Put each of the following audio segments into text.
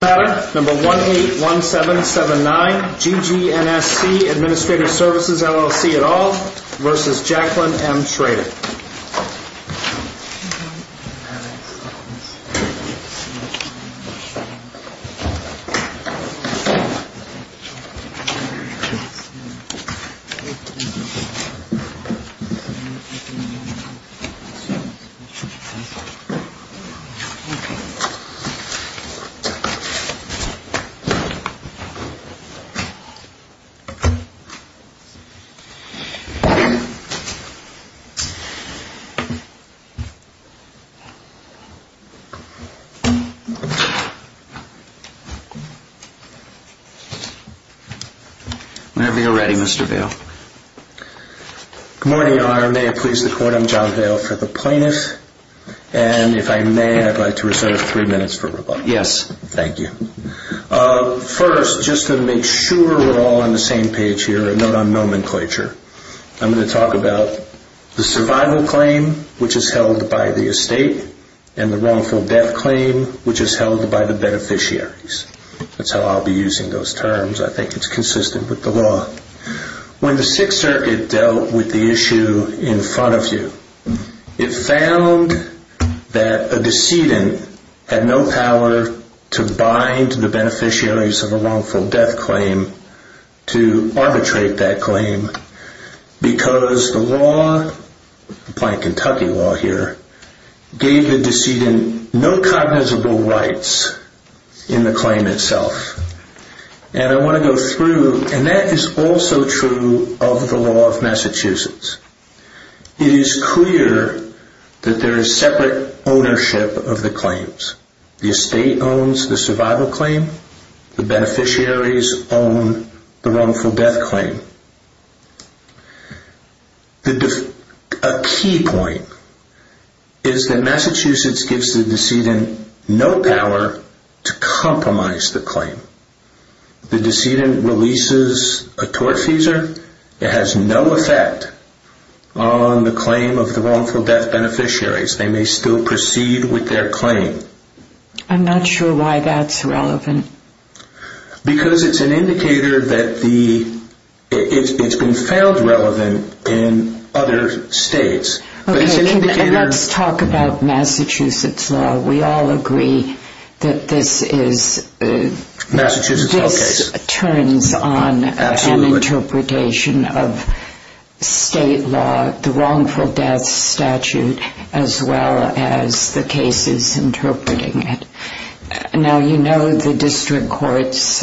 181779 GGNSC Administrative Services, LLC at all versus Jacqueline M. Schrader. Whenever you're ready, Mr. Vail. Good morning, Your Honor. May it please the court, I'm John Vail for the plaintiff. And if I may, I'd like to reserve three minutes for rebuttal. First, just to make sure we're all on the same page here, a note on nomenclature. I'm going to talk about the survival claim, which is held by the estate, and the wrongful death claim, which is held by the beneficiaries. That's how I'll be using those terms. I think it's consistent with the law. When the Sixth Circuit dealt with the issue in front of you, it found that a decedent had no power to bind the beneficiaries of a wrongful death claim to arbitrate that claim because the law, the Planned Kentucky Law here, gave the decedent no cognizable rights in the claim itself. And I want to go through, and that is also true of the law of Massachusetts. It is clear that there is separate ownership of the claims. The estate owns the survival claim. The beneficiaries own the wrongful death claim. A key point is that Massachusetts gives the decedent no power to compromise the claim. The decedent releases a tortfeasor. It has no effect on the claim of the wrongful death beneficiaries. They may still proceed with their claim. I'm not sure why that's relevant. Because it's an indicator that it's been found relevant in other states. Let's talk about Massachusetts law. We all agree that this turns on an interpretation of state law, the wrongful death statute, as well as the cases interpreting it. Now, you know the District Courts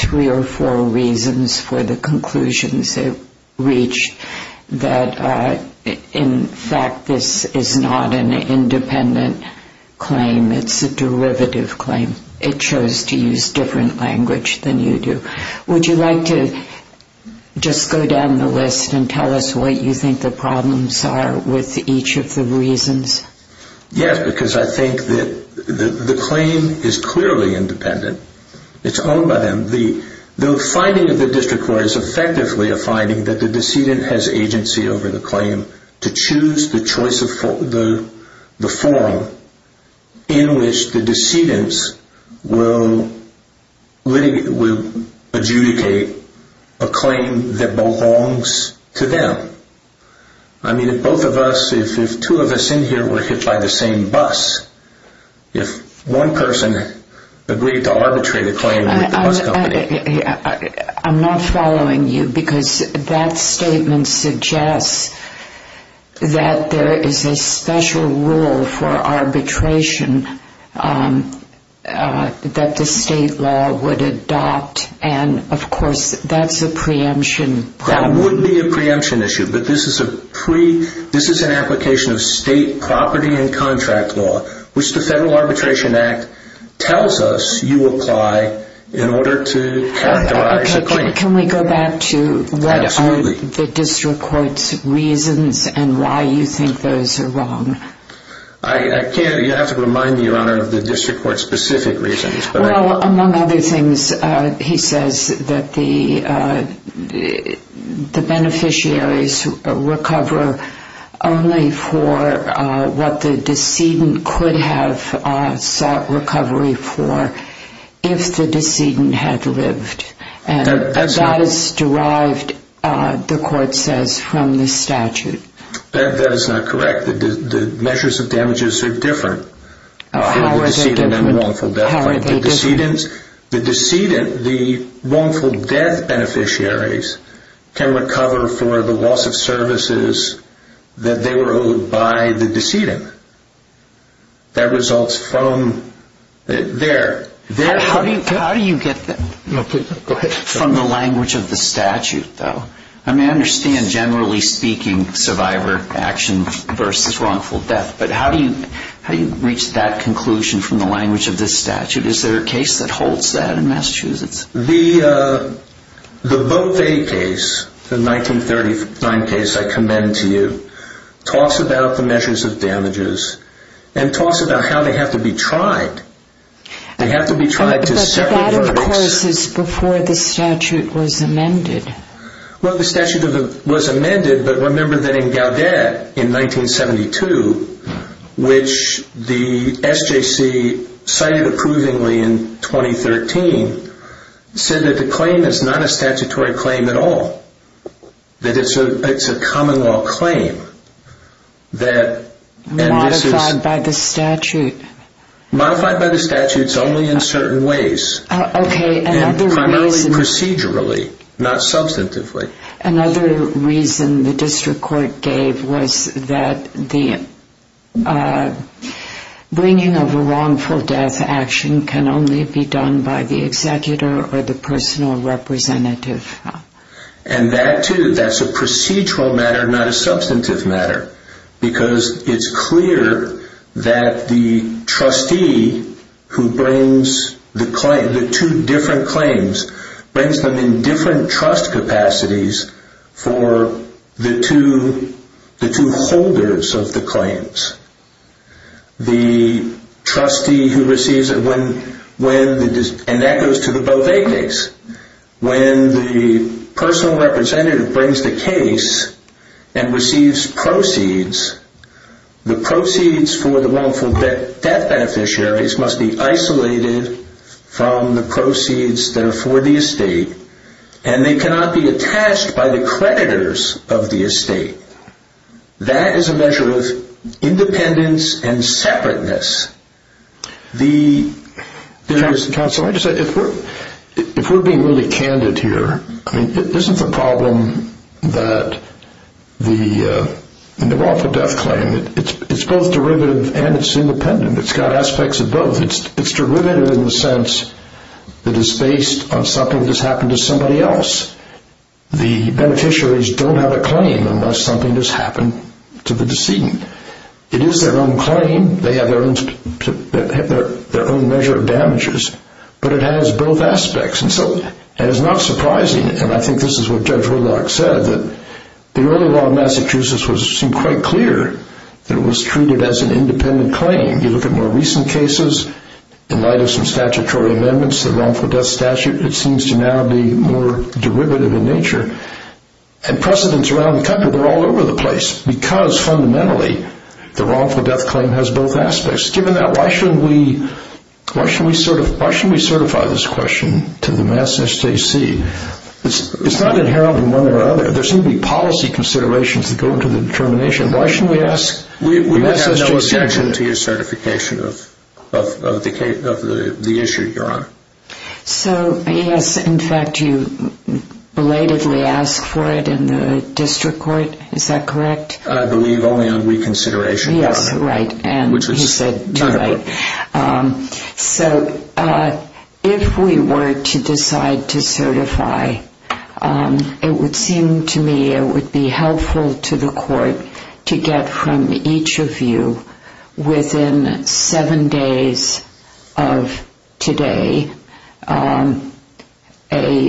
three or four reasons for the conclusions it reached that, in fact, this is not an independent claim. It's a derivative claim. It chose to use different language than you do. Would you like to just go down the list and tell us what you think the problems are with each of the reasons? Yes, because I think that the claim is clearly independent. It's owned by them. The finding of the District Court is effectively a finding that the decedent has agency over the claim to choose the form in which the decedent will adjudicate a claim that belongs to them. I mean, if both of us, if two of us in here were hit by the same bus, if one person agreed to arbitrate a claim with the bus company... I'm not following you, because that statement suggests that there is a special rule for arbitration that the state law would adopt. And, of course, that's a preemption. That would be a preemption issue, but this is an application of state property and contract law, which the Federal Arbitration Act tells us you apply in order to characterize a claim. Can we go back to what are the District Court's reasons and why you think those are wrong? I can't. You'll have to remind me, Your Honor, of the District Court's specific reasons. Well, among other things, he says that the beneficiaries recover only for what the decedent could have sought recovery for if the decedent had lived. And that is derived, the Court says, from the statute. That is not correct. The measures of damages are different for the decedent and the wrongful death claim. The wrongful death beneficiaries can recover for the loss of services that they were owed by the decedent. That results from their... How do you get that from the language of the statute, though? I mean, I understand, generally speaking, survivor action versus wrongful death, but how do you reach that conclusion from the language of this statute? Is there a case that holds that in Massachusetts? The Bothe case, the 1939 case I commend to you, talks about the measures of damages and talks about how they have to be tried. They have to be tried to separate verdicts. But that, of course, is before the statute was amended. Well, the statute was amended, but remember that in Gaudet in 1972, which the SJC cited approvingly in 2013, said that the claim is not a statutory claim at all, that it's a common law claim. Modified by the statute. Modified by the statute, it's only in certain ways. Procedurally, not substantively. Another reason the district court gave was that the bringing of a wrongful death action can only be done by the executor or the personal representative. And that, too, that's a procedural matter, not a substantive matter. Because it's clear that the trustee who brings the two different claims, brings them in different trust capacities for the two holders of the claims. The trustee who receives it when, and that goes to the Bothe case, when the personal representative brings the case and receives proceeds, the proceeds for the wrongful death beneficiaries must be isolated from the proceeds that are for the estate. And they cannot be attached by the creditors of the estate. That is a measure of independence and separateness. If we're being really candid here, isn't the problem that the wrongful death claim, it's both derivative and it's independent. It's got aspects of both. It's derivative in the sense that it's based on something that's happened to somebody else. The beneficiaries don't have a claim unless something has happened to the decedent. It is their own claim. They have their own measure of damages. But it has both aspects. And so it is not surprising, and I think this is what Judge Woodlock said, that the early law in Massachusetts seemed quite clear that it was treated as an independent claim. You look at more recent cases, in light of some statutory amendments, the wrongful death statute, it seems to now be more derivative in nature. And precedents around the country, they're all over the place. Because, fundamentally, the wrongful death claim has both aspects. Given that, why shouldn't we certify this question to the Massachusetts AC? It's not inherent in one way or another. There seem to be policy considerations that go into the determination. Why shouldn't we ask the Massachusetts AC? We would have no objection to your certification of the issue, Your Honor. So, yes, in fact, you belatedly asked for it in the district court. Is that correct? I believe only on reconsideration, Your Honor. Yes, right. And he said too late. So if we were to decide to certify, it would seem to me it would be helpful to the court to get from each of you, within seven days of today, a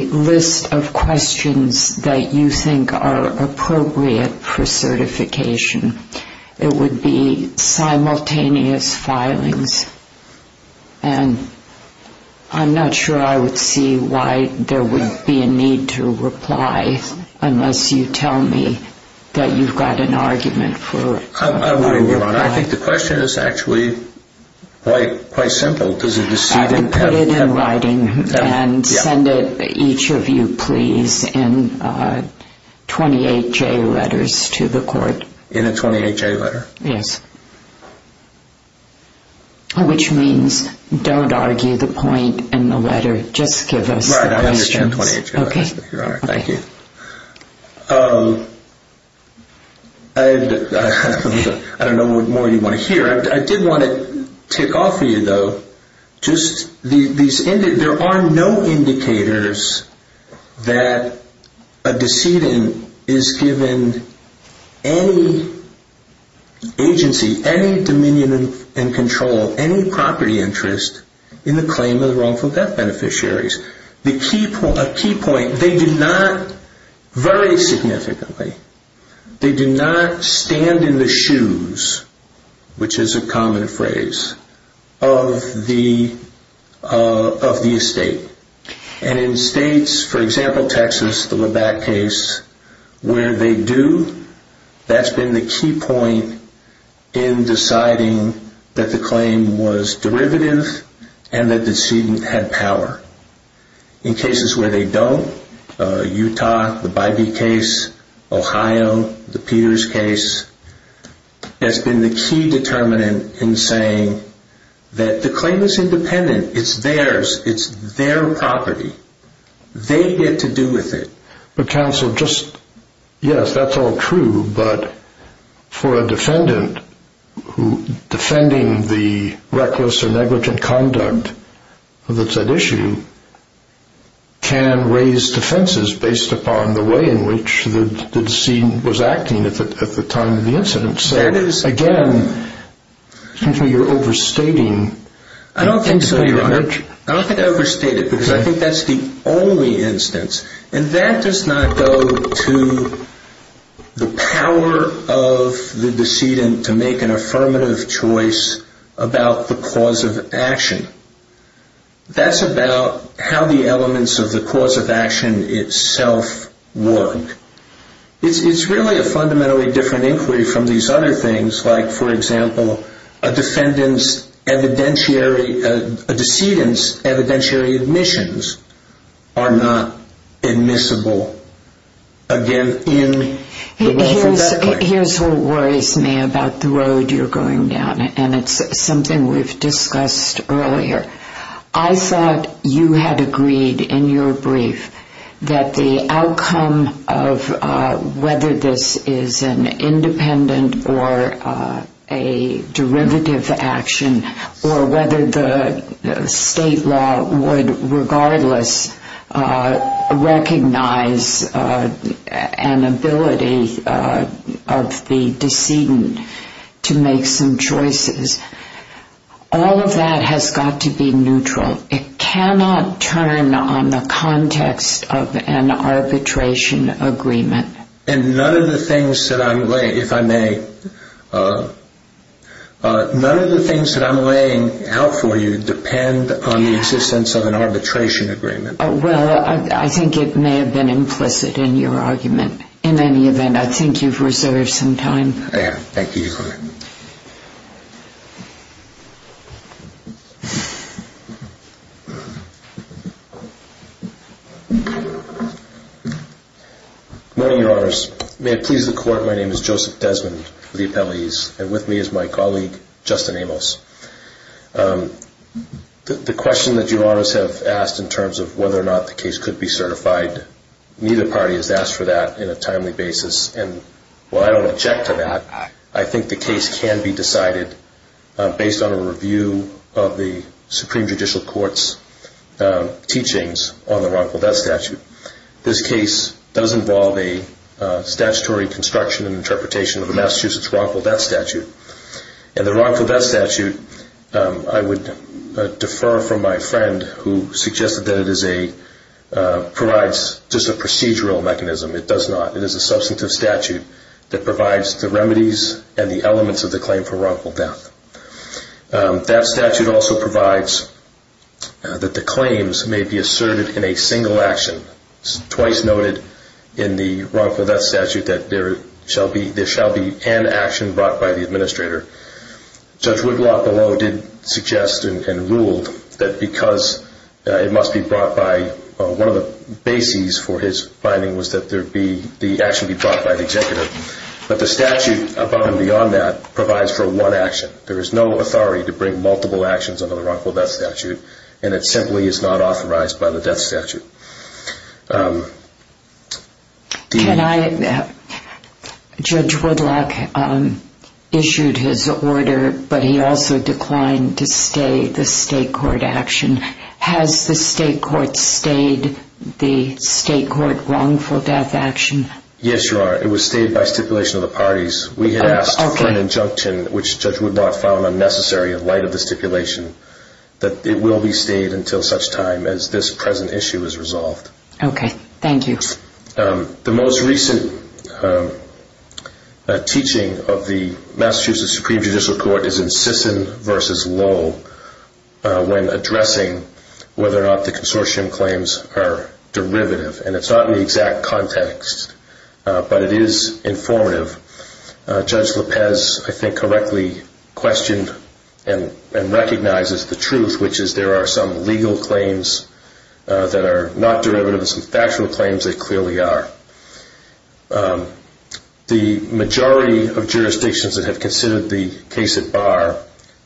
list of questions that you think are appropriate for certification. It would be simultaneous filings. And I'm not sure I would see why there would be a need to reply unless you tell me that you've got an argument for it. I think the question is actually quite simple. I would put it in writing and send it, each of you, please, in 28-J letters to the court. In a 28-J letter? Yes. Which means don't argue the point in the letter, just give us the questions. Right, I understand 28-J letters, Your Honor. Okay. Thank you. I don't know what more you want to hear. I did want to tick off for you, though, there are no indicators that a decedent is given any agency, any dominion and control, any property interest in the claim of the wrongful death beneficiaries. A key point, they do not, very significantly, they do not stand in the shoes, which is a common phrase, of the estate. And in states, for example, Texas, the Labatt case, where they do, that's been the key point in deciding that the claim was derivative and that the decedent had power. In cases where they don't, Utah, the Bybee case, Ohio, the Peters case, that's been the key determinant in saying that the claim is independent. It's theirs. It's their property. They get to do with it. But, counsel, just, yes, that's all true, but for a defendant who, defending the reckless or negligent conduct that's at issue, can raise defenses based upon the way in which the decedent was acting at the time of the incident. So, again, it seems to me you're overstating. I don't think so, Your Honor. I don't think I overstated because I think that's the only instance. And that does not go to the power of the decedent to make an affirmative choice about the cause of action. That's about how the elements of the cause of action itself work. It's really a fundamentally different inquiry from these other things, like, for example, a decedent's evidentiary admissions are not admissible. Again, in the wealth of that claim. Here's what worries me about the road you're going down, and it's something we've discussed earlier. I thought you had agreed in your brief that the outcome of whether this is an independent or a derivative action or whether the state law would regardless recognize an ability of the decedent to make some choices, all of that has got to be neutral. It cannot turn on the context of an arbitration agreement. And none of the things that I'm laying out for you depend on the existence of an arbitration agreement. Well, I think it may have been implicit in your argument. In any event, I think you've reserved some time. I have. Thank you, Your Honor. Good morning, Your Honors. May it please the Court, my name is Joseph Desmond of the appellees, and with me is my colleague, Justin Amos. The question that Your Honors have asked in terms of whether or not the case could be certified, neither party has asked for that in a timely basis, and while I don't object to that, I think the case can be decided based on a review of the Supreme Judicial Court's teachings on the wrongful death statute. This case does involve a statutory construction and interpretation of the Massachusetts wrongful death statute. And the wrongful death statute, I would defer from my friend who suggested that it provides just a procedural mechanism. It does not. It is a substantive statute that provides the remedies and the elements of the claim for wrongful death. That statute also provides that the claims may be asserted in a single action. It's twice noted in the wrongful death statute that there shall be an action brought by the administrator. Judge Wiglock below did suggest and ruled that because it must be brought by, one of the bases for his finding was that the action be brought by the executive, but the statute above and beyond that provides for one action. There is no authority to bring multiple actions under the wrongful death statute, and it simply is not authorized by the death statute. Judge Wiglock issued his order, but he also declined to stay the state court action. Has the state court stayed the state court wrongful death action? Yes, Your Honor. It was stayed by stipulation of the parties. We had asked for an injunction, which Judge Wiglock found unnecessary in light of the stipulation, that it will be stayed until such time as this present issue is resolved. Okay. Thank you. The most recent teaching of the Massachusetts Supreme Judicial Court is in Sisson v. Lowe when addressing whether or not the consortium claims are derivative, and it's not in the exact context, but it is informative. Judge Lopez, I think, correctly questioned and recognizes the truth, which is there are some legal claims that are not derivative and some factual claims that clearly are. The majority of jurisdictions that have considered the case at bar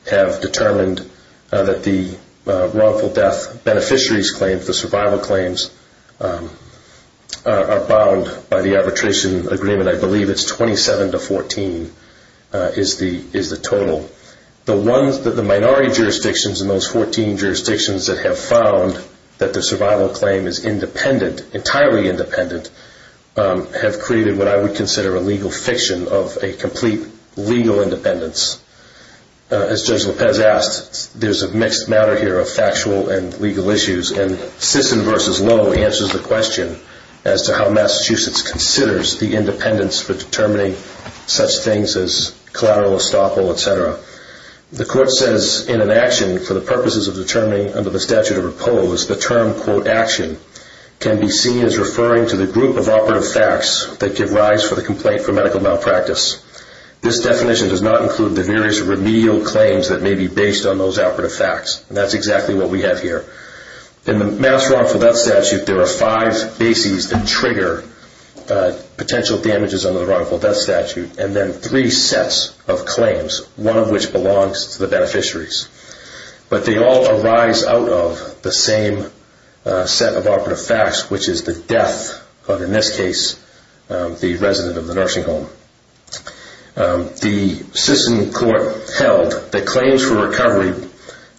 have determined that the wrongful death beneficiaries claims, the survival claims, are bound by the arbitration agreement. I believe it's 27 to 14 is the total. The ones that the minority jurisdictions in those 14 jurisdictions that have found that the survival claim is independent, entirely independent, have created what I would consider a legal fiction of a complete legal independence. As Judge Lopez asked, there's a mixed matter here of factual and legal issues, and Sisson v. Lowe answers the question as to how Massachusetts considers the independence for determining such things as collateral estoppel, et cetera. The court says in an action for the purposes of determining under the statute of repose, the term, quote, action can be seen as referring to the group of operative facts that give rise for the complaint for medical malpractice. This definition does not include the various remedial claims that may be based on those operative facts, and that's exactly what we have here. In the mass wrongful death statute, there are five bases that trigger potential damages under the wrongful death statute, and then three sets of claims, one of which belongs to the beneficiaries. But they all arise out of the same set of operative facts, which is the death of, in this case, the resident of the nursing home. The Sisson court held that claims for recovery,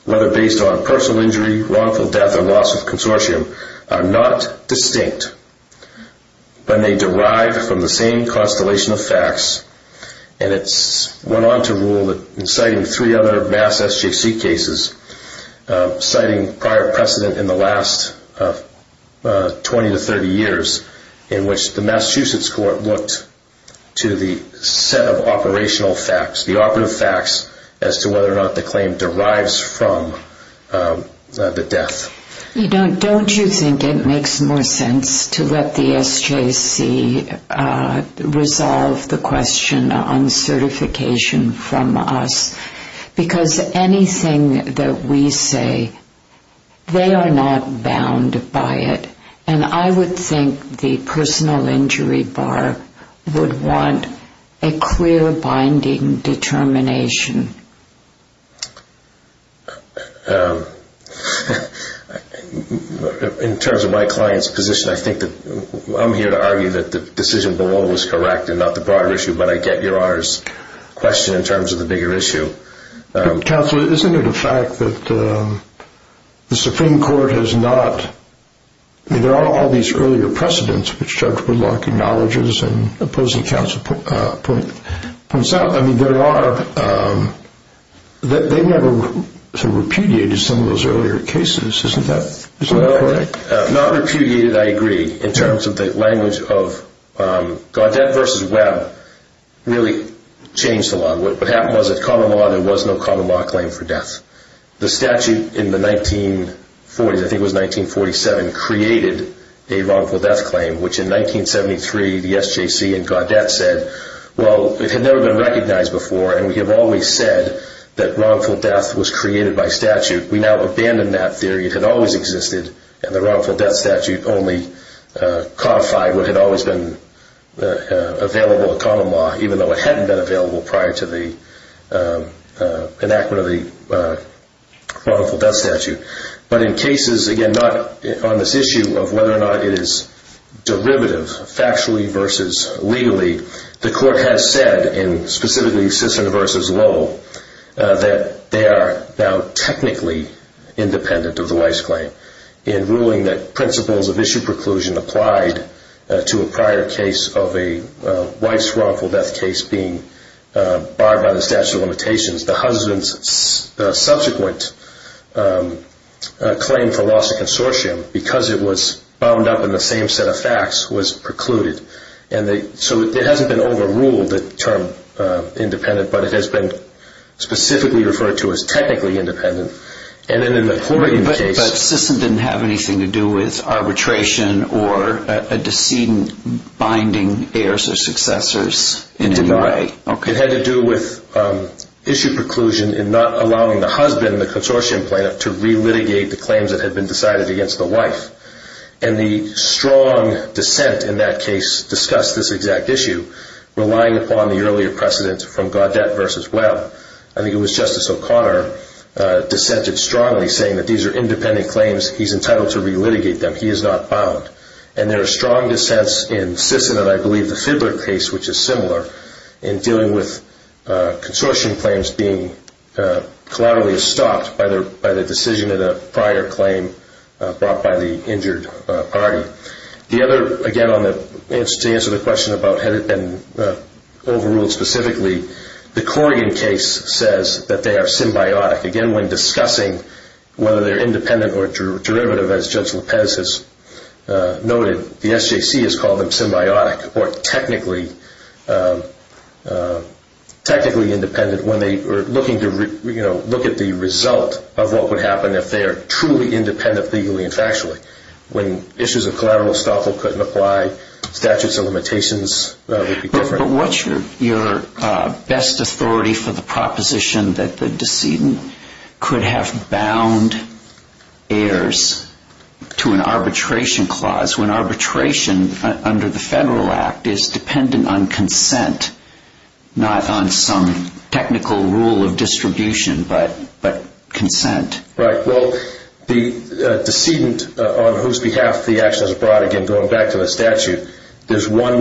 whether based on personal injury, wrongful death, or loss of consortium, are not distinct, but may derive from the same constellation of facts, and it's went on to rule that in citing three other mass SJC cases, citing prior precedent in the last 20 to 30 years, in which the Massachusetts court looked to the set of operational facts, the operative facts as to whether or not the claim derives from the death. Don't you think it makes more sense to let the SJC resolve the question on certification from us? Because anything that we say, they are not bound by it, and I would think the personal injury bar would want a clear binding determination. In terms of my client's position, I think that I'm here to argue that the decision below was correct and not the broader issue, but I get Your Honor's question in terms of the bigger issue. Counsel, isn't it a fact that the Supreme Court has not... I mean, there are all these earlier precedents which Judge Woodlock acknowledges and opposing counsel points out. I mean, they never repudiated some of those earlier cases. Isn't that correct? Not repudiated, I agree, in terms of the language of Gaudet versus Webb really changed a lot. What happened was that common law, there was no common law claim for death. The statute in the 1940s, I think it was 1947, created a wrongful death claim, which in 1973, the SJC and Gaudet said, well, it had never been recognized before and we have always said that wrongful death was created by statute. We now abandon that theory. It had always existed, and the wrongful death statute only codified what had always been available to common law, even though it hadn't been available prior to the enactment of the wrongful death statute. But in cases, again, not on this issue of whether or not it is derivative, factually versus legally, the Court has said, and specifically Sisson versus Lowell, that they are now technically independent of the wife's claim. In ruling that principles of issue preclusion applied to a prior case of a wife's wrongful death case being barred by the statute of limitations, the husband's subsequent claim for loss of consortium, because it was bound up in the same set of facts, was precluded. So it hasn't been overruled, the term independent, but it has been specifically referred to as technically independent. But Sisson didn't have anything to do with arbitration or a decedent binding heirs or successors in any way. It had to do with issue preclusion in not allowing the husband, the consortium plaintiff, to re-litigate the claims that had been decided against the wife. And the strong dissent in that case discussed this exact issue, relying upon the earlier precedent from Gaudette versus Webb. I think it was Justice O'Connor dissented strongly saying that these are independent claims, he's entitled to re-litigate them, he is not bound. And there are strong dissents in Sisson and I believe the Fidler case, which is similar, in dealing with consortium claims being collaterally stopped by the decision of the prior claim brought by the injured party. The other, again, to answer the question about had it been overruled specifically, the Corrigan case says that they are symbiotic. Again, when discussing whether they're independent or derivative, as Judge Lopez has noted, the SJC has called them symbiotic or technically independent when they are looking at the result of what would happen if they are truly independent legally and factually. When issues of collateral estoppel couldn't apply, statutes of limitations would be different. But what's your best authority for the proposition that the decedent could have bound heirs to an arbitration clause when arbitration under the Federal Act is dependent on consent, not on some technical rule of distribution, but consent? Right, well, the decedent on whose behalf the action is brought, again, going back to the statute, there's one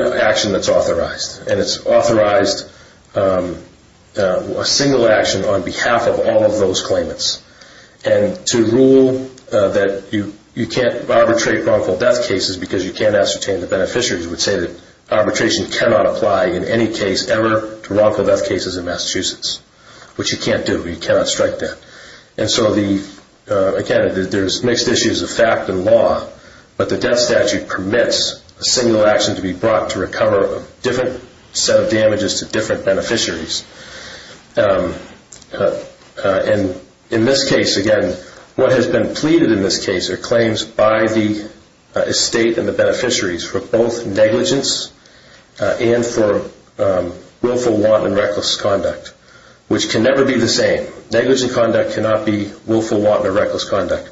action that's authorized. And it's authorized a single action on behalf of all of those claimants. And to rule that you can't arbitrate wrongful death cases because you can't ascertain the beneficiaries would say that arbitration cannot apply in any case ever to wrongful death cases in Massachusetts, which you can't do. You cannot strike that. And so, again, there's mixed issues of fact and law, but the death statute permits a single action to be brought to recover a different set of damages to different beneficiaries. And in this case, again, what has been pleaded in this case are claims by the estate and the beneficiaries for both negligence and for willful wanton and reckless conduct, which can never be the same. Negligent conduct cannot be willful wanton or reckless conduct.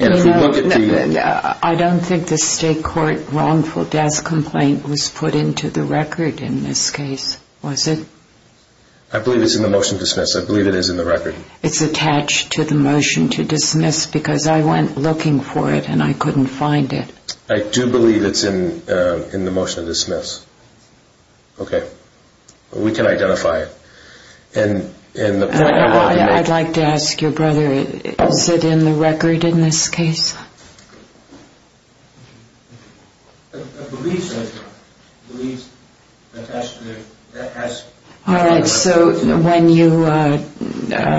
I don't think the state court wrongful death complaint was put into the record in this case, was it? I believe it's in the motion to dismiss. I believe it is in the record. It's attached to the motion to dismiss because I went looking for it and I couldn't find it. I do believe it's in the motion to dismiss. Okay. We can identify it. I'd like to ask your brother, is it in the record in this case? All right. So when you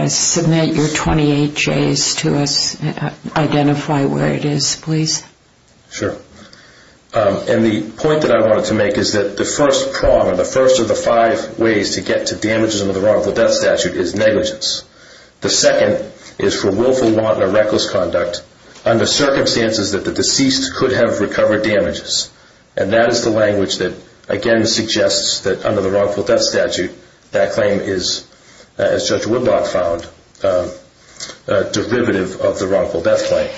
submit your 28Js to us, identify where it is, please. Sure. And the point that I wanted to make is that the first prong or the first of the five ways to get to damages under the wrongful death statute is negligence. The second is for willful wanton or reckless conduct under circumstances that the deceased could have recovered damages. And that is the language that, again, suggests that under the wrongful death statute, that claim is, as Judge Woodblock found, a derivative of the wrongful death claim.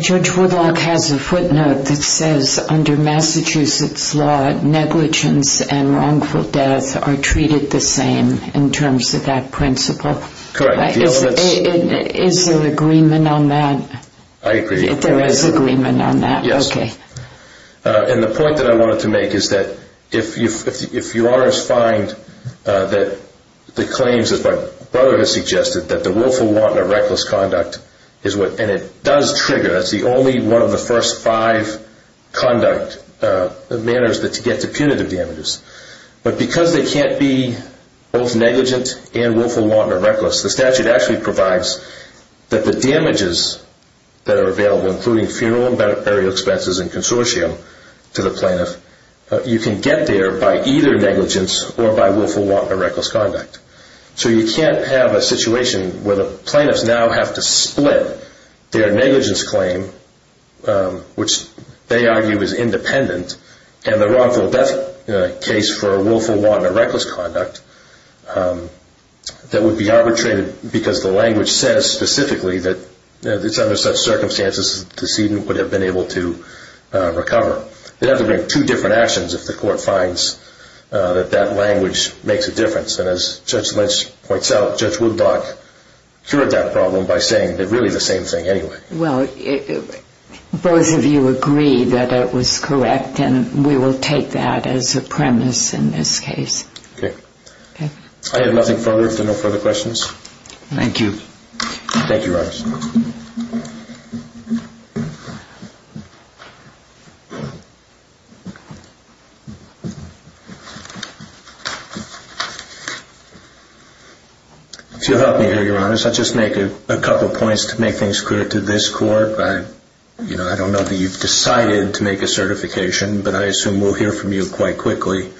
Judge Woodblock has a footnote that says under Massachusetts law, negligence and wrongful death are treated the same in terms of that principle. Correct. Is there agreement on that? I agree. There is agreement on that? Yes. Okay. And the point that I wanted to make is that if you are to find that the claims, as my brother has suggested, that the willful wanton or reckless conduct is what, and it does trigger, that's the only one of the first five conduct manners to get to punitive damages. But because they can't be both negligent and willful wanton or reckless, the statute actually provides that the damages that are available, including funeral and burial expenses and consortium to the plaintiff, you can get there by either negligence or by willful wanton or reckless conduct. So you can't have a situation where the plaintiffs now have to split their negligence claim, which they argue is independent, and the wrongful death case for willful wanton or reckless conduct that would be arbitrated because the language says specifically that it's under such circumstances that the decedent would have been able to recover. They'd have to bring two different actions if the court finds that that language makes a difference. And as Judge Lynch points out, Judge Wooddock cured that problem by saying really the same thing anyway. Well, both of you agree that it was correct, and we will take that as a premise in this case. Okay. Okay. I have nothing further if there are no further questions. Thank you. Thank you, Your Honor. If you'll help me here, Your Honor, I'll just make a couple points to make things clear to this court. I don't know that you've decided to make a certification, but I assume we'll hear from you quite quickly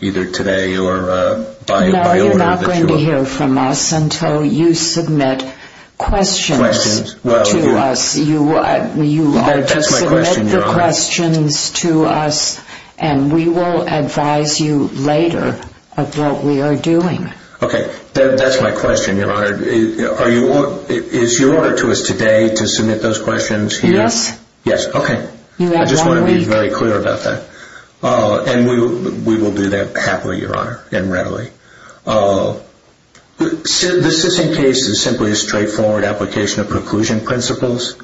either today or by order that you will. No, you're not going to hear from us until you submit questions to us. Questions. That's my question, Your Honor. And we will advise you later of what we are doing. Okay. That's my question, Your Honor. Is your order to us today to submit those questions here? Yes. Okay. You have one week. I just want to be very clear about that. And we will do that happily, Your Honor, and readily. This decision case is simply a straightforward application of preclusion principles.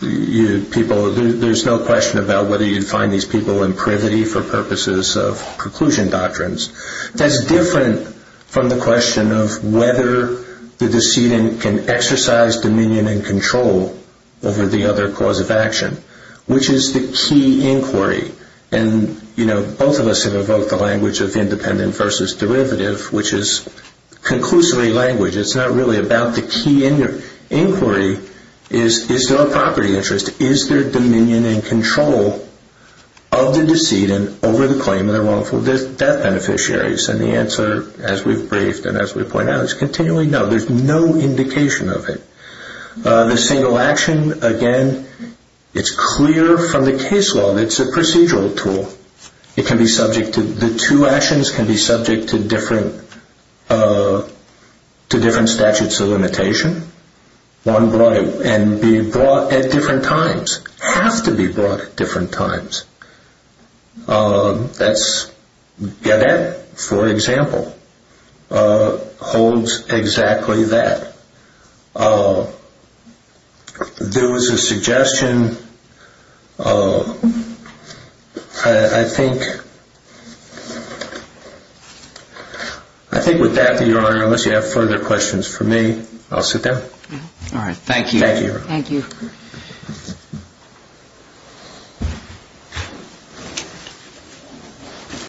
There's no question about whether you'd find these people in privity for purposes of preclusion doctrines. That's different from the question of whether the decedent can exercise dominion and control over the other cause of action, which is the key inquiry. And, you know, both of us have evoked the language of independent versus derivative, which is conclusively language. It's not really about the key inquiry. Is there a property interest? Is there dominion and control of the decedent over the claim of their wrongful death beneficiaries? And the answer, as we've briefed and as we point out, is continually no. There's no indication of it. The single action, again, it's clear from the case law. It's a procedural tool. The two actions can be subject to different statutes of limitation. One can be brought at different times, have to be brought at different times. That's Gedet, for example, holds exactly that. There was a suggestion. I think with that, Your Honor, unless you have further questions for me, I'll sit down. All right. Thank you. Thank you, Your Honor. Thank you.